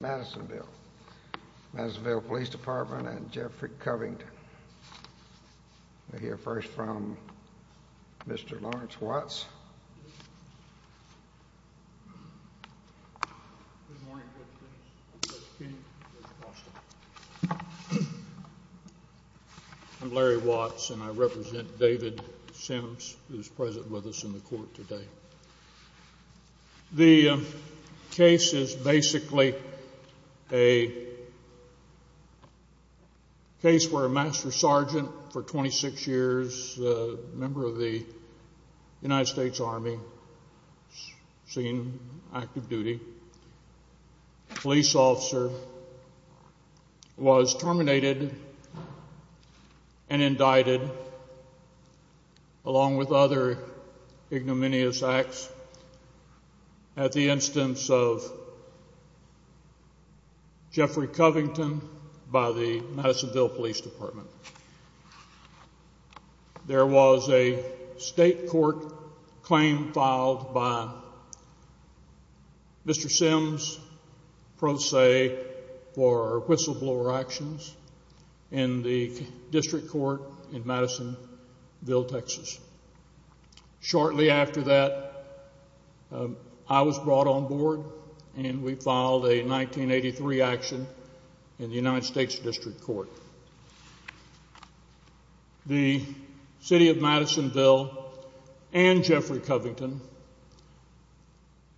Madisonville Police Department and Jeffrey Covington. We'll hear first from Mr. Lawrence Watts. I'm Larry Watts and I represent David Sims who is present with us in the court today. The case is basically a case where a Master Sergeant for 26 years, a member of the United States Army, seen in active duty, police officer, was terminated and indicted along with other ignominious acts at the instance of Jeffrey Covington by the Madisonville Police Department. There was a state court claim filed by Mr. Sims pro se for whistleblower actions in the district court in Madisonville, Texas. Shortly after that, I was brought on board and we filed a 1983 action in the United States District Court. The City of Madisonville and Jeffrey Covington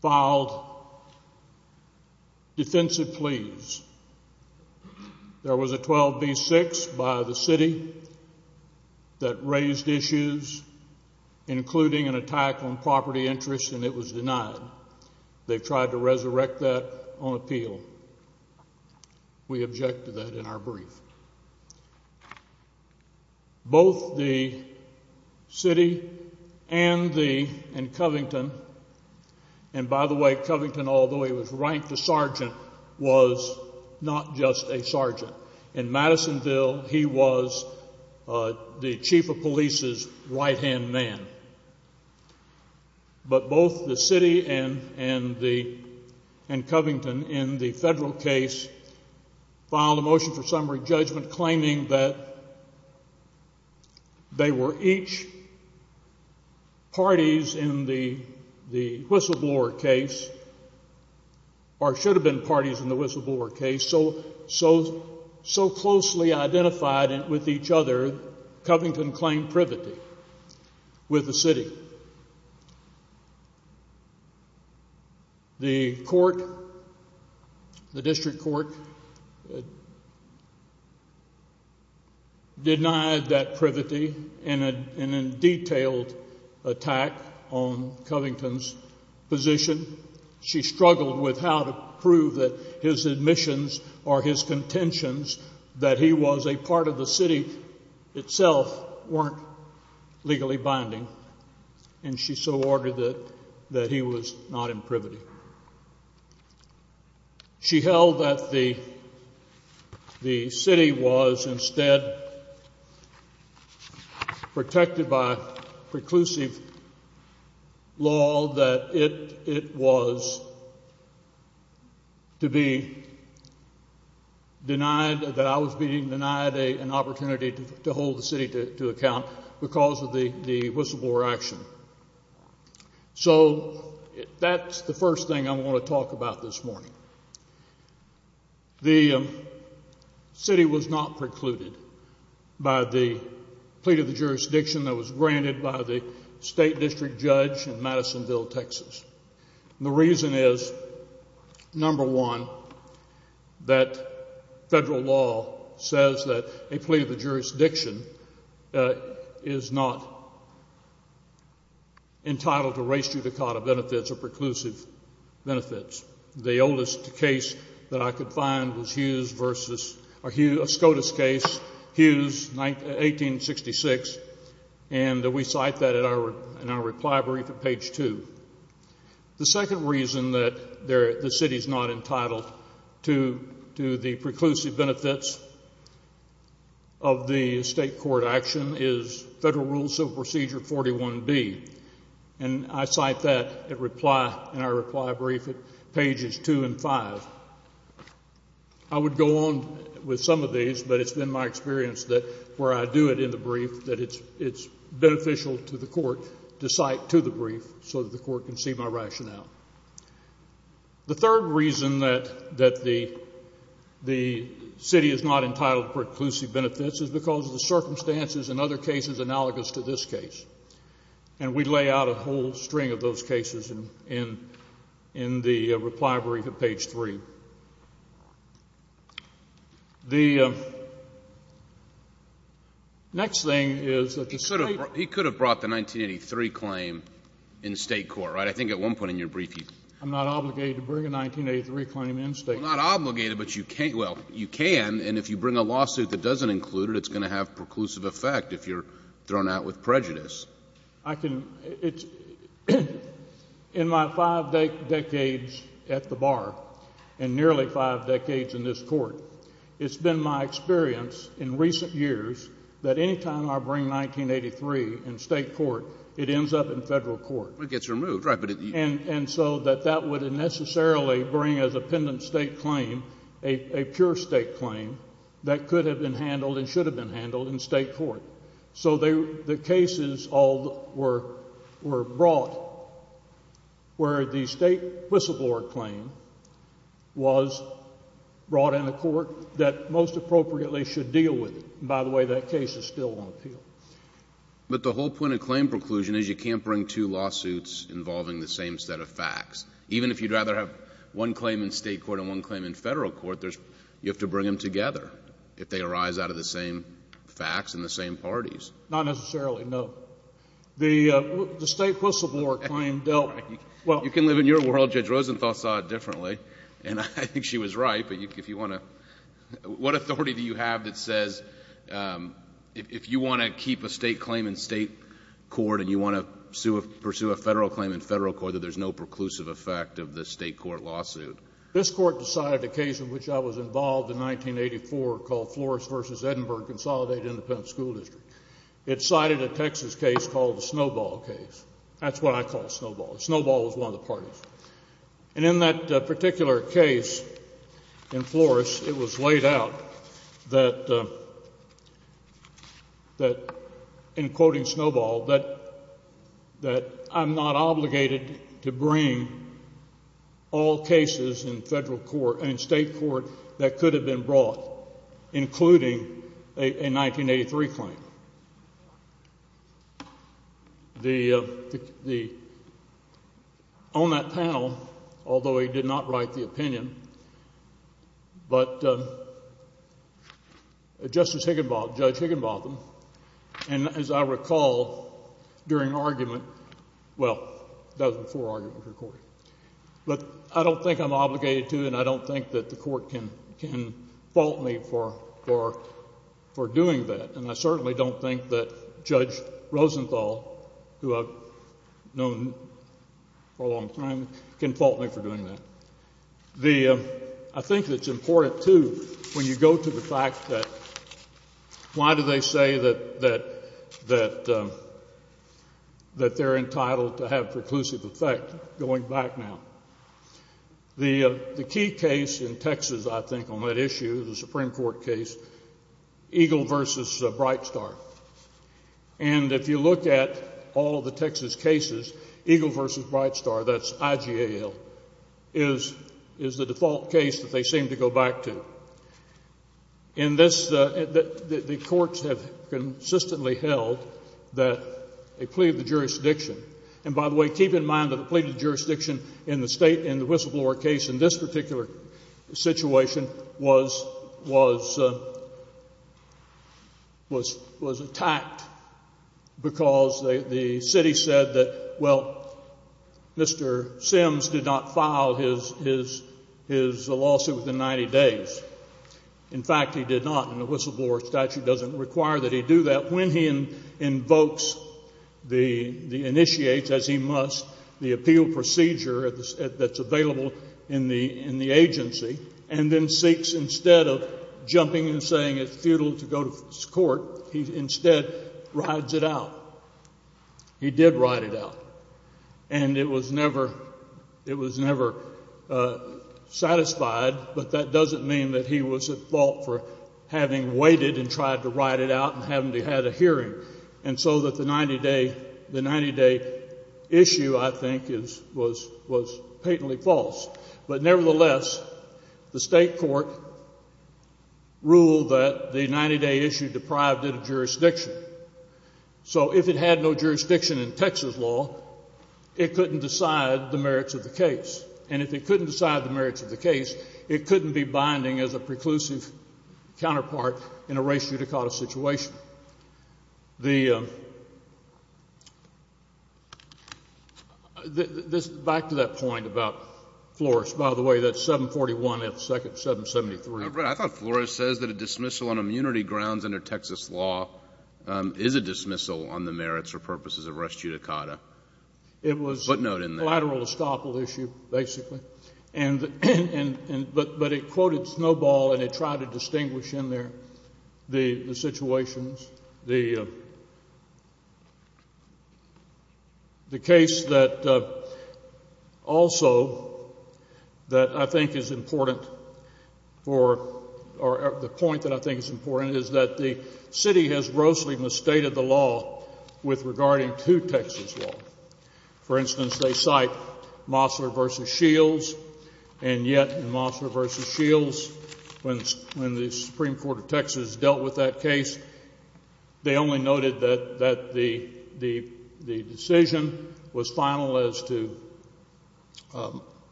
filed defensive pleas. There was a 12b-6 by the city that raised issues including an attack on property interest and it was denied. They tried to resurrect that on appeal. We object to that in our brief. Both the city and Covington, and by the way, Covington, although he was ranked a sergeant, was not just a sergeant. In Madisonville, he was the chief of police's right hand man. But both the city and Covington in the federal case filed a motion for summary judgment claiming that they were each parties in the whistleblower case, or should have been parties in the whistleblower case, so closely identified with each other, Covington claimed privity with the city. The court, the district court, denied that privity in a detailed attack on Covington's position. She struggled with how to prove that his admissions or his contentions, that he was a part of the city itself, weren't legally binding. And she so ordered that he was not in privity. She held that the city was instead protected by preclusive law, that it was to be denied, that I was being denied an opportunity to hold the city to account because of the whistleblower action. So that's the first thing I want to talk about this morning. The city was not precluded by the plea to the jurisdiction that was granted by the state district judge in Madisonville, Texas. The reason is, number one, that federal law says that a plea to the jurisdiction is not entitled to res judicata benefits or preclusive benefits. The oldest case that I could find was Hughes versus, a SCOTUS case, Hughes, 1866, and we cite that in our reply brief at page two. The second reason that the city is not entitled to the preclusive benefits of the state court action is Federal Rule Civil Procedure 41B. And I cite that in our reply brief at pages two and five. I would go on with some of these, but it's been my experience that where I do it in the brief, that it's beneficial to the court to cite to the brief so that the court can see my rationale. The third reason that the city is not entitled to preclusive benefits is because of the circumstances in other cases analogous to this case. And we lay out a whole string of those cases in the reply brief at page three. The next thing is that the state — He could have brought the 1983 claim in state court, right? I think at one point in your brief you — I'm not obligated to bring a 1983 claim in state court. Well, not obligated, but you can — well, you can, and if you bring a lawsuit that doesn't include it, it's going to have preclusive effect if you're thrown out with prejudice. I can — it's — in my five decades at the bar and nearly five decades in this court, it's been my experience in recent years that any time I bring 1983 in state court, it ends up in Federal court. It gets removed, right, but it — And so that that wouldn't necessarily bring as a pendant state claim a pure state claim that could have been handled and should have been handled in state court. So the cases all were brought where the state whistleblower claim was brought into court that most appropriately should deal with it. By the way, that case is still on appeal. But the whole point of claim preclusion is you can't bring two lawsuits involving the same set of facts. Even if you'd rather have one claim in state court and one claim in Federal court, there's — you have to bring them together if they arise out of the same facts and the same parties. Not necessarily, no. The state whistleblower claim dealt — You can live in your world. Judge Rosenthal saw it differently, and I think she was right. But if you want to — what authority do you have that says if you want to keep a state claim in state court and you want to pursue a Federal claim in Federal court, that there's no preclusive effect of the state court lawsuit? This court decided a case in which I was involved in 1984 called Flores v. Edinburgh consolidated independent school district. It cited a Texas case called the Snowball case. That's what I call Snowball. Snowball was one of the parties. And in that particular case in Flores, it was laid out that, in quoting Snowball, that I'm not obligated to bring all cases in Federal court and state court that could have been brought, including a 1983 claim. The — on that panel, although he did not write the opinion, but Justice Higginbotham, Judge Higginbotham, and as I recall during argument — well, that was before argument for court. But I don't think I'm obligated to, and I don't think that the court can fault me for doing that. And I certainly don't think that Judge Rosenthal, who I've known for a long time, can fault me for doing that. The — I think it's important, too, when you go to the fact that — why do they say that they're entitled to have preclusive effect going back now? The key case in Texas, I think, on that issue, the Supreme Court case, Eagle v. Brightstar. And if you look at all of the Texas cases, Eagle v. Brightstar, that's IGAL, is the default case that they seem to go back to. In this, the courts have consistently held that a plea of the jurisdiction — and by the way, keep in mind that a plea of the jurisdiction in the whistleblower case in this particular situation was attacked because the city said that, well, Mr. Sims did not file his lawsuit within 90 days. In fact, he did not, and the whistleblower statute doesn't require that he do that. When he invokes the — initiates, as he must, the appeal procedure that's available in the agency, and then seeks instead of jumping and saying it's futile to go to court, he instead rides it out. He did ride it out, and it was never satisfied, but that doesn't mean that he was at fault for having waited and tried to ride it out and having to have a hearing. And so that the 90-day issue, I think, was patently false. But nevertheless, the state court ruled that the 90-day issue deprived it of jurisdiction. So if it had no jurisdiction in Texas law, it couldn't decide the merits of the case. And if it couldn't decide the merits of the case, it couldn't be binding as a preclusive counterpart in a race judicata situation. The — back to that point about Flores. By the way, that's 741 F. 2nd, 773. I thought Flores says that a dismissal on immunity grounds under Texas law is a dismissal on the merits or purposes of race judicata. It was a collateral estoppel issue, basically. And — but it quoted Snowball, and it tried to distinguish in there the situations. The case that also that I think is important for — or the point that I think is important is that the city has grossly misstated the law with regarding to Texas law. For instance, they cite Mosler v. Shields, and yet in Mosler v. Shields, when the Supreme Court of Texas dealt with that case, they only noted that the decision was final as to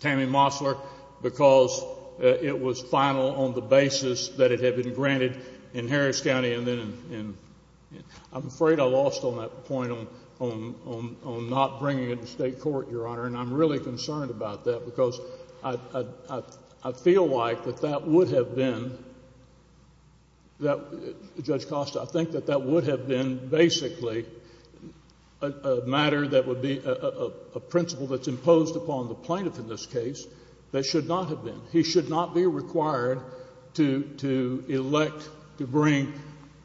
Tammy Mosler because it was final on the basis that it had been granted in Harris County and then in — I'm afraid I lost on that point on not bringing it to State court, Your Honor. And I'm really concerned about that because I feel like that that would have been — that — Judge Costa, I think that that would have been basically a matter that would be a principle that's imposed upon the plaintiff in this case that should not have been. He should not be required to elect to bring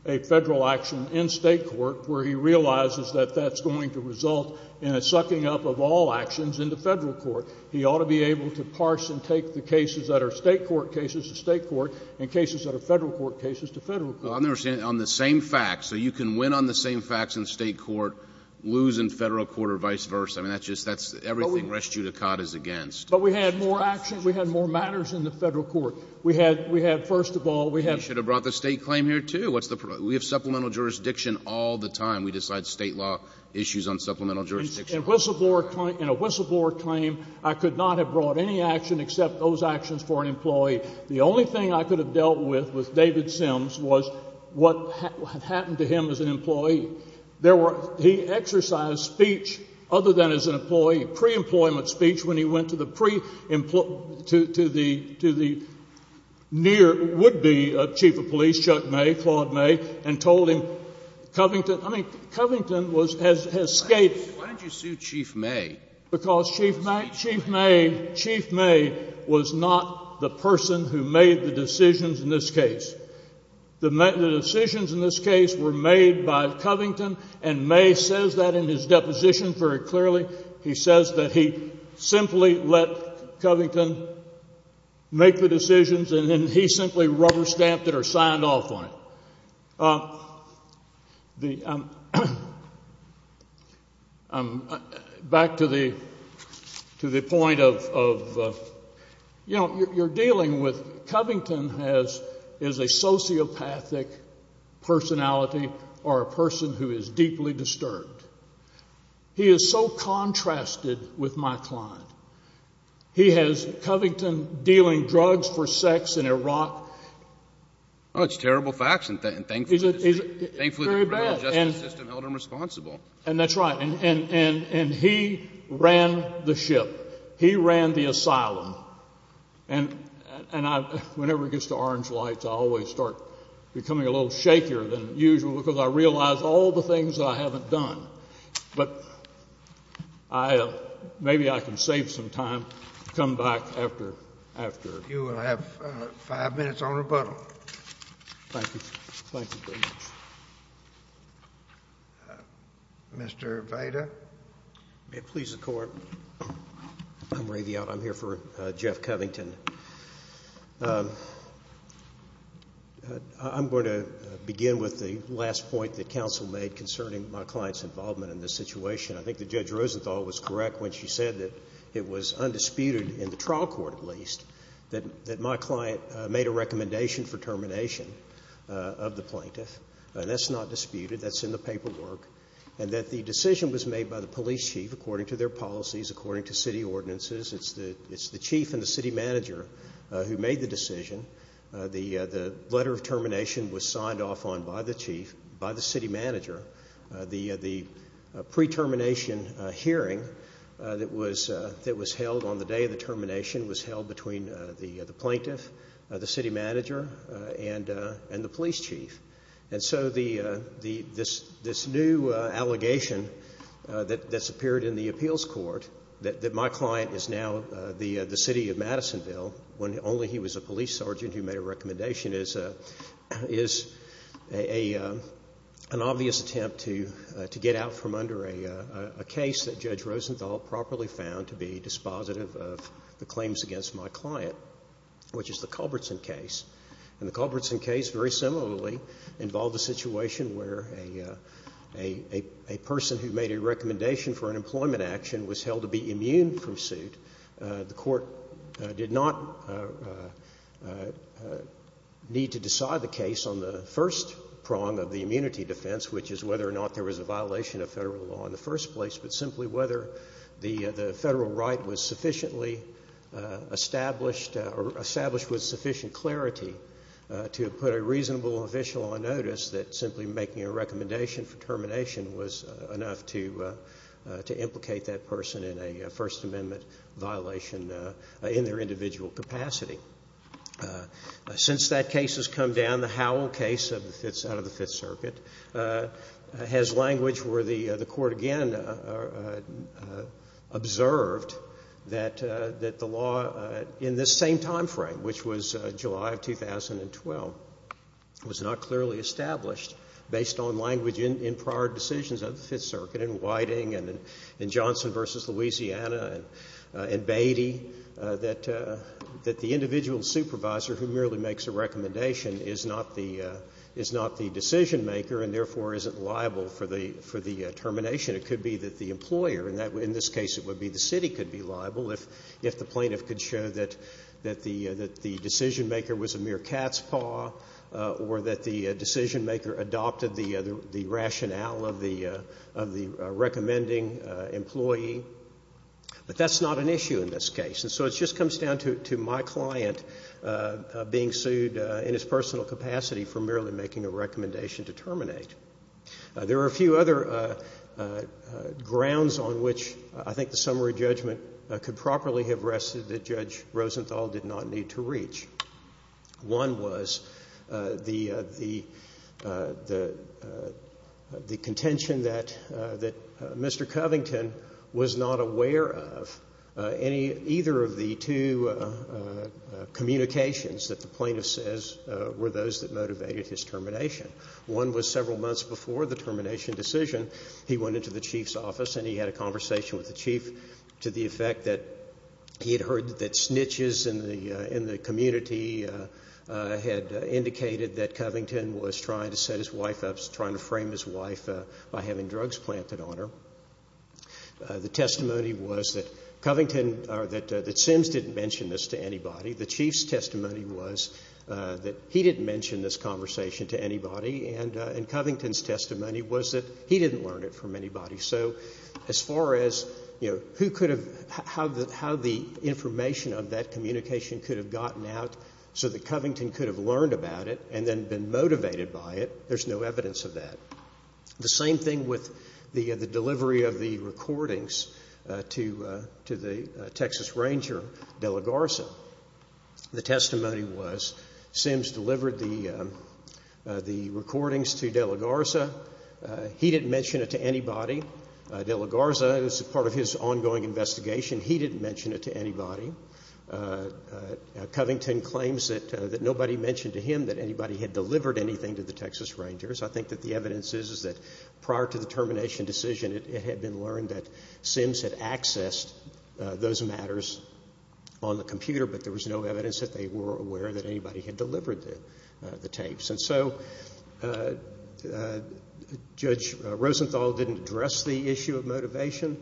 a Federal action in State court where he realizes that that's going to result in a sucking up of all actions into Federal court. He ought to be able to parse and take the cases that are State court cases to State court and cases that are Federal court cases to Federal court. Well, I'm never saying — on the same facts. So you can win on the same facts in State court, lose in Federal court, or vice versa. I mean, that's just — that's everything rest judicata is against. But we had more action. We had more matters in the Federal court. We had — we had — first of all, we had — You should have brought the State claim here, too. What's the — we have supplemental jurisdiction all the time. We decide State law issues on supplemental jurisdiction. In a whistleblower claim, I could not have brought any action except those actions for an employee. The only thing I could have dealt with, with David Sims, was what had happened to him as an employee. There were — he exercised speech other than as an employee, pre-employment speech, when he went to the pre-employ — to the near — would-be chief of police, Chuck May, Claude May, and told him, Covington — I mean, Covington was — has escaped. Why did you sue Chief May? Because Chief May — Chief May was not the person who made the decisions in this case. The decisions in this case were made by Covington, and May says that in his deposition very clearly. He says that he simply let Covington make the decisions, and then he simply rubber-stamped it or signed off on it. The — back to the point of — you know, you're dealing with — Covington has — is a sociopathic personality or a person who is deeply disturbed. He is so contrasted with my client. He has Covington dealing drugs for sex in Iraq. Well, it's terrible facts, and thankfully — Is it — Thankfully, the criminal justice system held him responsible. And that's right. And he ran the ship. He ran the asylum. And I — whenever it gets to orange lights, I always start becoming a little shakier than usual because I realize all the things that I haven't done. But I — maybe I can save some time to come back after — after — You will have five minutes on rebuttal. Thank you. Thank you very much. Mr. Vida. May it please the Court. I'm Ray Viao. I'm here for Jeff Covington. I'm going to begin with the last point that counsel made concerning my client's involvement in this situation. I think that Judge Rosenthal was correct when she said that it was undisputed in the trial court, at least, that my client made a recommendation for termination of the plaintiff. And that's not disputed. That's in the paperwork. And that the decision was made by the police chief according to their policies, according to city ordinances. It's the chief and the city manager who made the decision. The letter of termination was signed off on by the chief, by the city manager. The pre-termination hearing that was held on the day of the termination was held between the plaintiff, the city manager, and the police chief. And so this new allegation that's appeared in the appeals court that my client is now the city of Madisonville, when only he was a police sergeant who made a recommendation, is an obvious attempt to get out from under a case that Judge Rosenthal properly found to be dispositive of the claims against my client, which is the Culbertson case. And the Culbertson case very similarly involved a situation where a person who made a recommendation for an employment action was held to be immune from suit. The court did not need to decide the case on the first prong of the immunity defense, which is whether or not there was a violation of federal law in the first place, but simply whether the federal right was sufficiently established or established with sufficient clarity to put a reasonable official on notice that simply making a recommendation for termination was enough to implicate that person in a First Amendment violation in their individual capacity. Since that case has come down, the Howell case out of the Fifth Circuit has language where the court, again, observed that the law in this same time frame, which was July of 2012, was not clearly established based on language in prior decisions of the Fifth Circuit in Whiting and in Johnson v. Louisiana and Beatty, that the individual supervisor who merely makes a recommendation is not the decision-maker and therefore isn't liable for the termination. It could be that the employer, in this case it would be the city, could be liable if the plaintiff could show that the decision-maker was a mere cat's paw or that the decision-maker adopted the rationale of the recommending employee, but that's not an issue in this case. And so it just comes down to my client being sued in his personal capacity for merely making a recommendation to terminate. There are a few other grounds on which I think the summary judgment could properly have rested that Judge Rosenthal did not need to reach. One was the contention that Mr. Covington was not aware of any, either of the two communications that the plaintiff says were those that motivated his termination. One was several months before the termination decision. He went into the chief's office and he had a conversation with the chief to the effect that he had heard that snitches in the community had indicated that Covington was trying to set his wife up, trying to frame his wife by having drugs planted on her. The testimony was that Covington or that Sims didn't mention this to anybody. The chief's testimony was that he didn't mention this conversation to anybody, and Covington's testimony was that he didn't learn it from anybody. So as far as how the information of that communication could have gotten out so that Covington could have learned about it and then been motivated by it, there's no evidence of that. The same thing with the delivery of the recordings to the Texas Ranger De La Garza. The testimony was Sims delivered the recordings to De La Garza. He didn't mention it to anybody. De La Garza, as part of his ongoing investigation, he didn't mention it to anybody. Covington claims that nobody mentioned to him that anybody had delivered anything to the Texas Rangers. I think that the evidence is that prior to the termination decision, it had been learned that Sims had accessed those matters on the computer, but there was no evidence that they were aware that anybody had delivered the tapes. And so Judge Rosenthal didn't address the issue of motivation.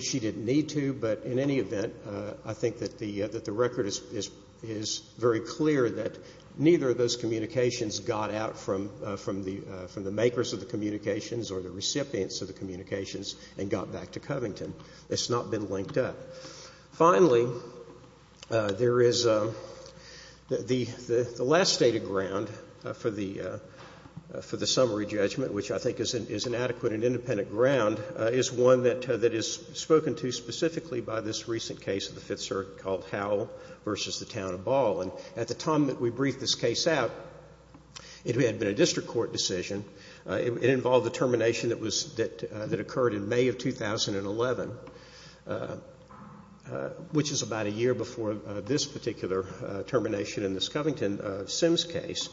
She didn't need to, but in any event, I think that the record is very clear that neither of those communications got out from the makers of the communications or the recipients of the communications and got back to Covington. It's not been linked up. Finally, there is the last stated ground for the summary judgment, which I think is an adequate and independent ground, is one that is spoken to specifically by this recent case of the Fifth Circuit called Howell v. The Town of Ball. And at the time that we briefed this case out, it had been a district court decision. It involved a termination that occurred in May of 2011, which is about a year before this particular termination in this Covington Sims case.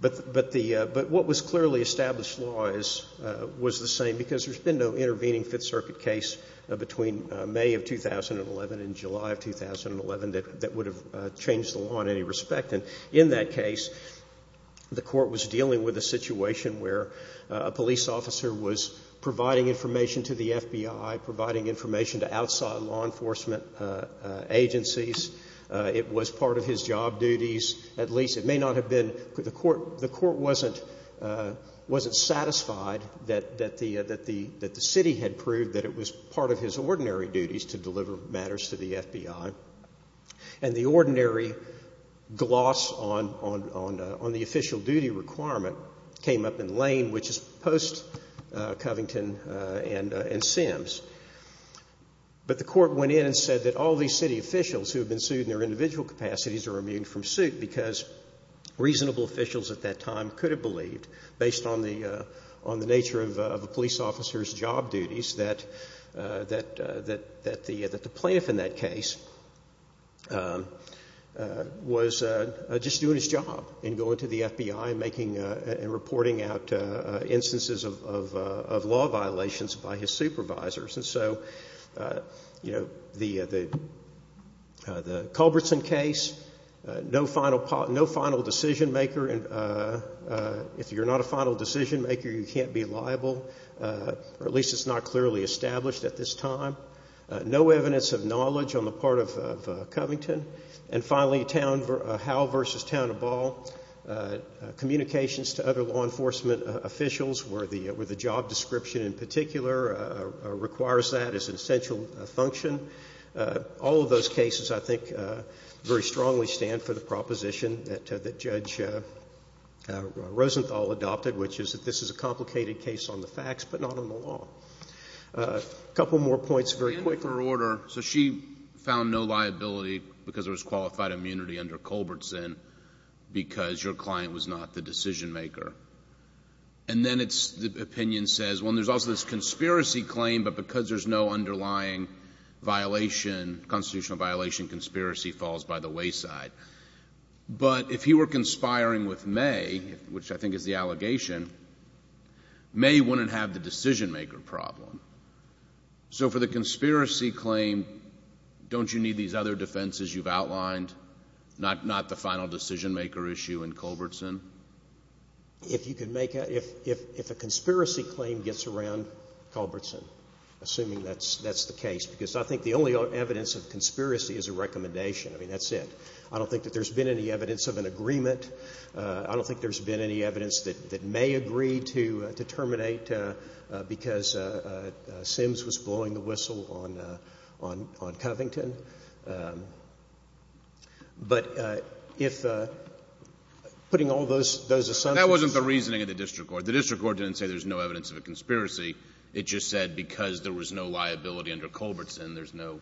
But what was clearly established law was the same, because there's been no intervening Fifth Circuit case between May of 2011 and July of 2011 that would have changed the law in any respect. And in that case, the court was dealing with a situation where a police officer was providing information to the FBI, providing information to outside law enforcement agencies. It was part of his job duties. At least it may not have been. The court wasn't satisfied that the city had proved that it was part of his ordinary duties to deliver matters to the FBI. And the ordinary gloss on the official duty requirement came up in Lane, which is post-Covington and Sims. But the court went in and said that all these city officials who have been sued in their individual capacities are immune from suit because reasonable officials at that time could have believed, based on the nature of a police officer's job duties, that the plaintiff in that case was just doing his job in going to the FBI and reporting out instances of law violations by his supervisors. And so the Culbertson case, no final decision maker, if you're not a final decision maker, you can't be liable, or at least it's not clearly established at this time. No evidence of knowledge on the part of Covington. And finally, Howell v. Town & Ball, communications to other law enforcement officials where the job description in particular requires that as an essential function. All of those cases, I think, very strongly stand for the proposition that Judge Rosenthal adopted, which is that this is a complicated case on the facts, but not on the law. A couple more points very quickly. So she found no liability because there was qualified immunity under Culbertson because your client was not the decision maker. And then the opinion says, well, there's also this conspiracy claim, but because there's no underlying violation, constitutional violation, conspiracy falls by the wayside. But if he were conspiring with May, which I think is the allegation, May wouldn't have the decision maker problem. So for the conspiracy claim, don't you need these other defenses you've outlined, not the final decision maker issue in Culbertson? If a conspiracy claim gets around Culbertson, assuming that's the case, because I think the only evidence of conspiracy is a recommendation. I mean, that's it. I don't think that there's been any evidence of an agreement. I don't think there's been any evidence that May agreed to terminate because Sims was blowing the whistle on Covington. But if the — putting all those assumptions— That wasn't the reasoning of the district court. The district court didn't say there's no evidence of a conspiracy. It just said because there was no liability under Culbertson, there's no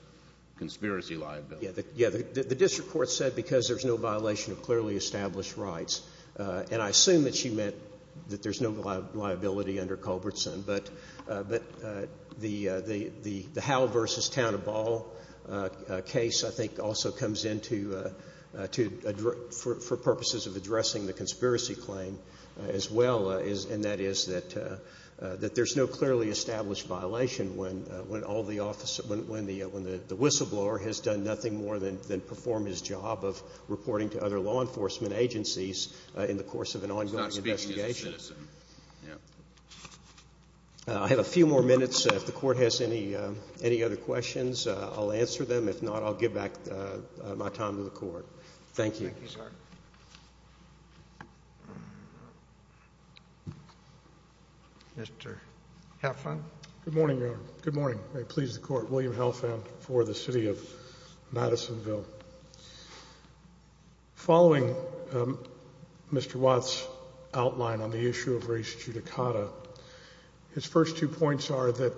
conspiracy liability. Yeah. The district court said because there's no violation of clearly established rights. And I assume that she meant that there's no liability under Culbertson. But the Howell v. Town of Ball case, I think, also comes into — for purposes of addressing the conspiracy claim as well, and that is that there's no clearly established violation when all the — when the whistleblower has done nothing more than perform his job of reporting to other law enforcement agencies in the course of an ongoing investigation. Yeah. I have a few more minutes. If the court has any other questions, I'll answer them. If not, I'll give back my time to the court. Thank you. Thank you, sir. Mr. Halfand. Good morning, Your Honor. Good morning. May it please the court. William Halfand for the city of Madisonville. Following Mr. Watt's outline on the issue of race judicata, his first two points are that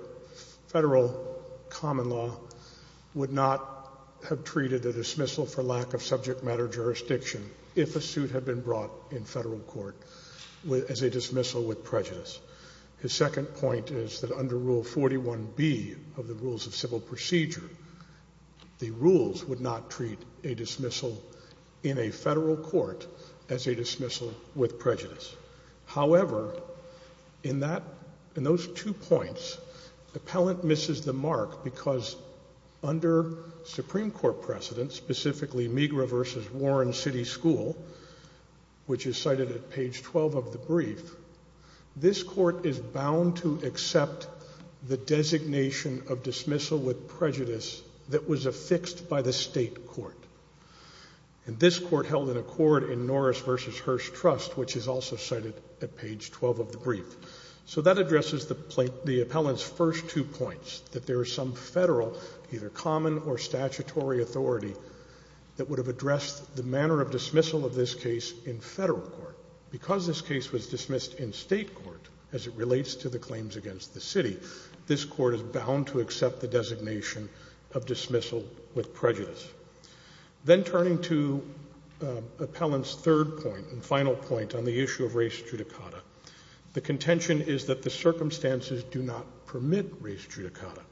federal common law would not have treated a dismissal for lack of subject matter jurisdiction if a suit had been brought in federal court as a dismissal with prejudice. His second point is that under Rule 41B of the Rules of Civil Procedure, the court would not treat a dismissal in a federal court as a dismissal with prejudice. However, in that — in those two points, appellant misses the mark because under Supreme Court precedent, specifically Meagher v. Warren City School, which is cited at page 12 of the brief, this court is bound to accept the designation of dismissal with prejudice. So that addresses the appellant's first two points, that there is some federal either common or statutory authority that would have addressed the manner of dismissal of this case in federal court. Because this case was dismissed in state court as it relates to the claims against the city, this court is bound to accept the designation of dismissal with prejudice. Then turning to appellant's third point and final point on the issue of race judicata, the contention is that the circumstances do not permit race judicata.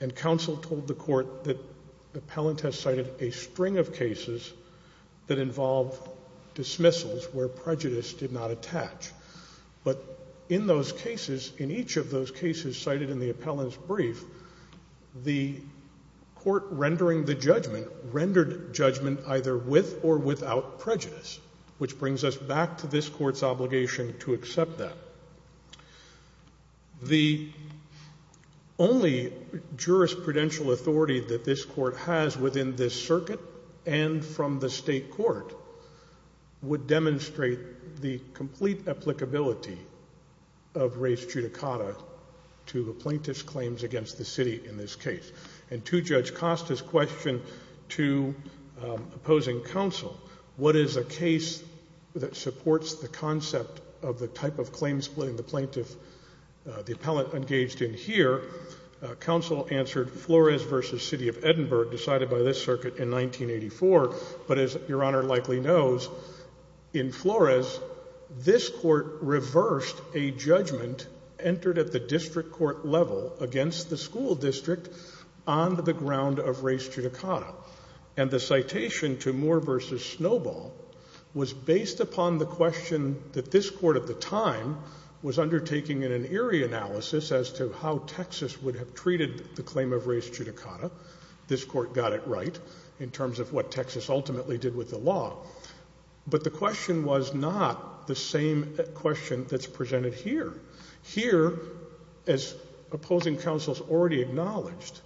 And counsel told the court that appellant has cited a string of cases that involve dismissals where prejudice did not attach. But in those cases, in each of those cases cited in the appellant's brief, the court rendering the judgment rendered judgment either with or without prejudice, which brings us back to this court's obligation to accept that. The only jurisprudential authority that this court has within this circuit and from the state court would demonstrate the complete applicability of race judicata to the plaintiff's claims against the city in this case. And to Judge Costa's question to opposing counsel, what is a case that supports the concept of the type of claims splitting the plaintiff, the appellant engaged in here, counsel answered Flores v. City of Edinburgh, decided by this circuit in 1984. But as Your Honor likely knows, in Flores, this court reversed a judgment entered at the district court level against the school district on the ground of race judicata. And the citation to Moore v. Snowball was based upon the question that this court at the time was undertaking in an eerie analysis as to how Texas would have treated the claim of race judicata. This court got it right in terms of what Texas ultimately did with the law. But the question was not the same question that's presented here. Here, as opposing counsel has already acknowledged,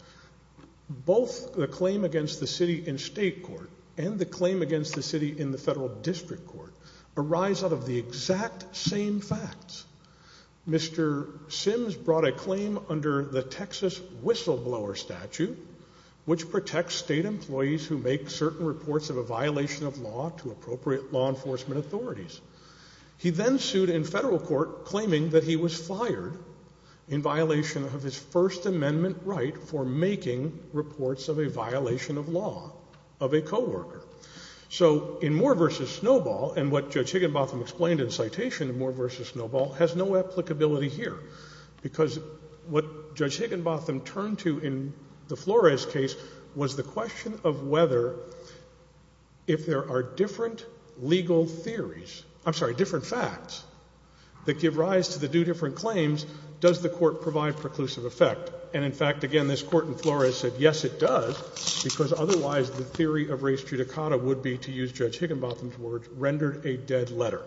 both the claim against the city in state court and the claim against the city in the federal district court arise out of the exact same facts. Mr. Sims brought a claim under the Texas whistleblower statute, which protects state employees who make certain reports of a violation of law to appropriate law enforcement authorities. He then sued in federal court, claiming that he was fired in violation of his First Amendment right for making reports of a violation of law of a co-worker. So in Moore v. Snowball, and what Judge Higginbotham explained in citation of Moore v. Snowball, has no applicability here, because what Judge Higginbotham turned to in the Flores case was the question of whether, if there are different legal theories, I'm sorry, different facts that give rise to the two different claims, does the court provide preclusive effect? And in fact, again, this court in Flores said, yes, it does, because otherwise the theory of race judicata would be, to use Judge Higginbotham's words, rendered a dead letter.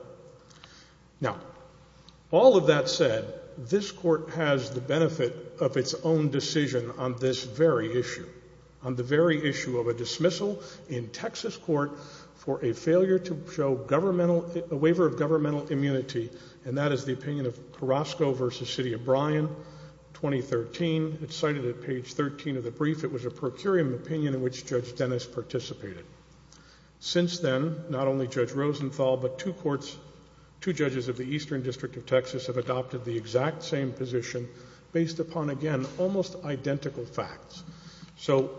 Now, all of that said, this court has the benefit of its own decision on this very issue, on the very issue of a dismissal in Texas court for a failure to show governmental, a waiver of governmental immunity, and that is the opinion of Carrasco v. City of Bryan, 2013. It's cited at page 13 of the brief. It was a procurium opinion in which Judge Dennis participated. Since then, not only Judge Rosenthal, but two courts, two judges of the Eastern District of Texas have adopted the exact same position based upon, again, almost identical facts. So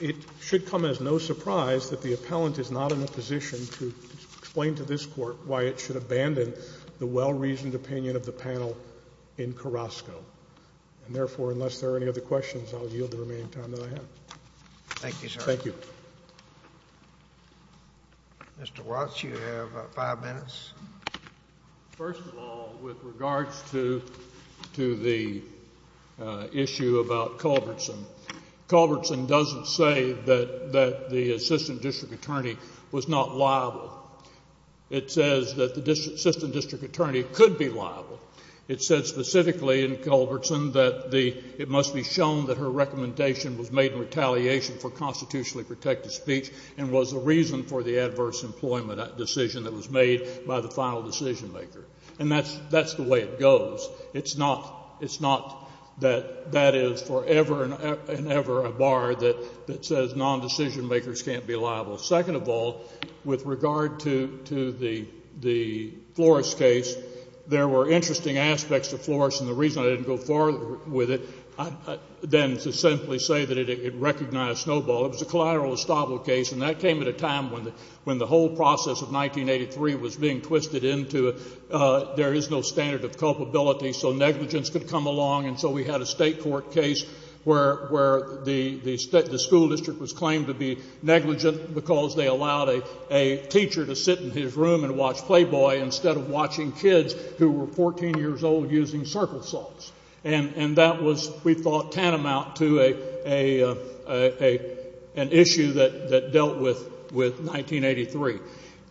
it should come as no surprise that the appellant is not in a position to explain to this court why it should abandon the well-reasoned opinion of the panel in Carrasco. And therefore, unless there are any other questions, I'll yield the remaining time that I have. Thank you, sir. Thank you. Mr. Watts, you have five minutes. First of all, with regards to the issue about Culbertson, Culbertson doesn't say that the assistant district attorney was not liable. It says that the assistant district attorney could be liable. It says specifically in Culbertson that it must be shown that her recommendation was made in retaliation for constitutionally protected speech and was the reason for the adverse employment decision that was made by the final decision maker. And that's the way it goes. It's not that that is forever and ever a bar that says non-decision makers can't be liable. Second of all, with regard to the Flores case, there were interesting aspects to say that it recognized snowball. It was a collateral estoppel case, and that came at a time when the whole process of 1983 was being twisted into there is no standard of culpability, so negligence could come along, and so we had a state court case where the school district was claimed to be negligent because they allowed a teacher to sit in his room and watch Playboy instead of watching kids who were 14 years old using circle salts. And that was, we thought, tantamount to an issue that dealt with 1983.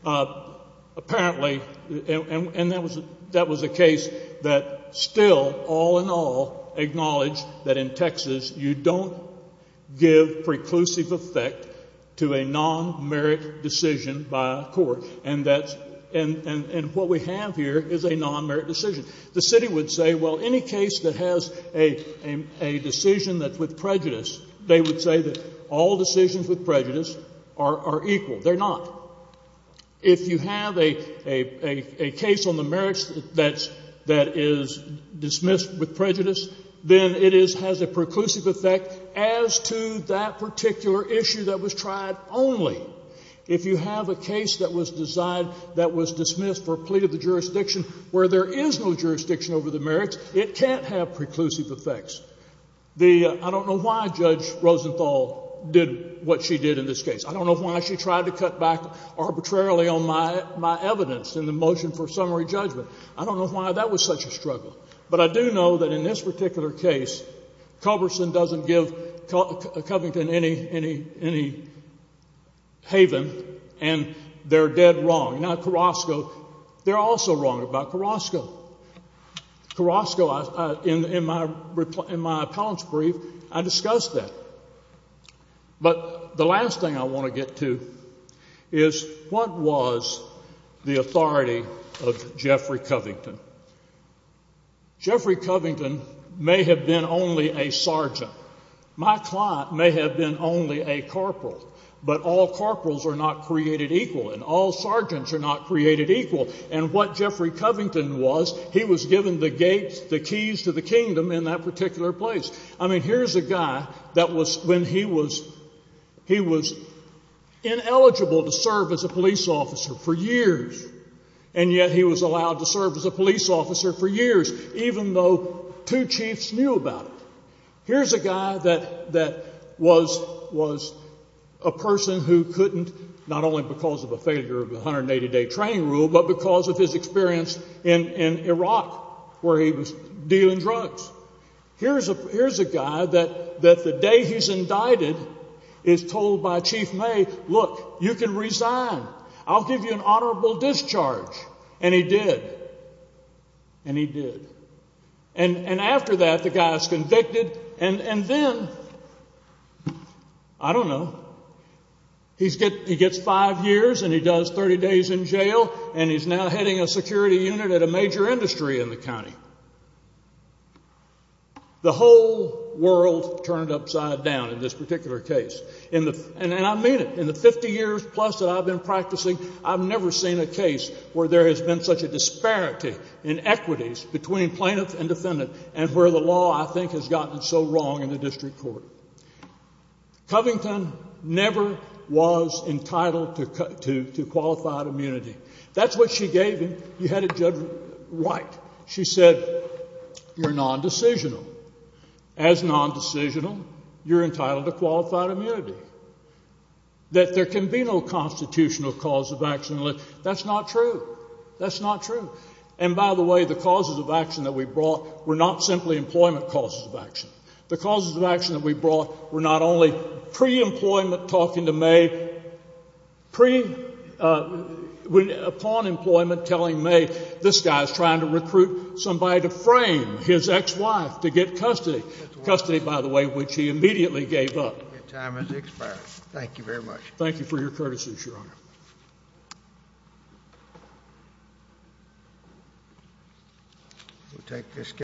Apparently, and that was a case that still all in all acknowledged that in Texas you don't give preclusive effect to a non-merit decision by a court, and what we have here is a non-merit decision. The city would say, well, any case that has a decision that's with prejudice, they would say that all decisions with prejudice are equal. They're not. If you have a case on the merits that is dismissed with prejudice, then it has a preclusive effect as to that particular issue that was tried only. If you have a case that was dismissed for a plea to the jurisdiction where there is no jurisdiction over the merits, it can't have preclusive effects. I don't know why Judge Rosenthal did what she did in this case. I don't know why she tried to cut back arbitrarily on my evidence in the motion for summary judgment. I don't know why that was such a struggle. But I do know that in this particular case Culberson doesn't give Covington any haven and they're dead wrong. Now Carrasco, they're also wrong about Carrasco. Carrasco, in my appellant's brief, I discussed that. But the last thing I want to get to is what was the authority of Jeffrey Covington. Jeffrey Covington may have been only a sergeant. My client may have been only a corporal, but all corporals are not created equal and all sergeants are not created equal. And what Jeffrey Covington was, he was given the gates, the keys to the kingdom in that particular place. I mean, here's a guy that was when he was ineligible to serve as a police officer for years, and yet he was allowed to serve as a police officer for years, even though two chiefs knew about it. Here's a guy that was a person who couldn't, not only because of a failure of the 180-day training rule, but because of his experience in Iraq where he was dealing drugs. Here's a guy that the day he's indicted is told by Chief May, look, you can resign. I'll give you an honorable discharge. And he did. And he did. And after that, the guy is convicted, and then, I don't know, he gets five years and he does 30 days in jail, and he's now heading a security unit at a major industry in the county. The whole world turned upside down in this particular case. And I mean it. In the 50 years plus that I've been practicing, I've never seen a case where there has been such a disparity in equities between plaintiff and defendant and where the law, I think, has gotten so wrong in the district court. Covington never was entitled to qualified immunity. That's what she gave him. You had a Judge White. She said, you're nondecisional. As nondecisional, you're entitled to qualified immunity, that there can be no constitutional cause of accident. That's not true. That's not true. And, by the way, the causes of action that we brought were not simply employment causes of action. The causes of action that we brought were not only pre-employment, talking to May, upon employment, telling May, this guy is trying to recruit somebody to frame his ex-wife to get custody, custody, by the way, which he immediately gave up. Your time has expired. Thank you very much. Thank you for your courtesies, Your Honor.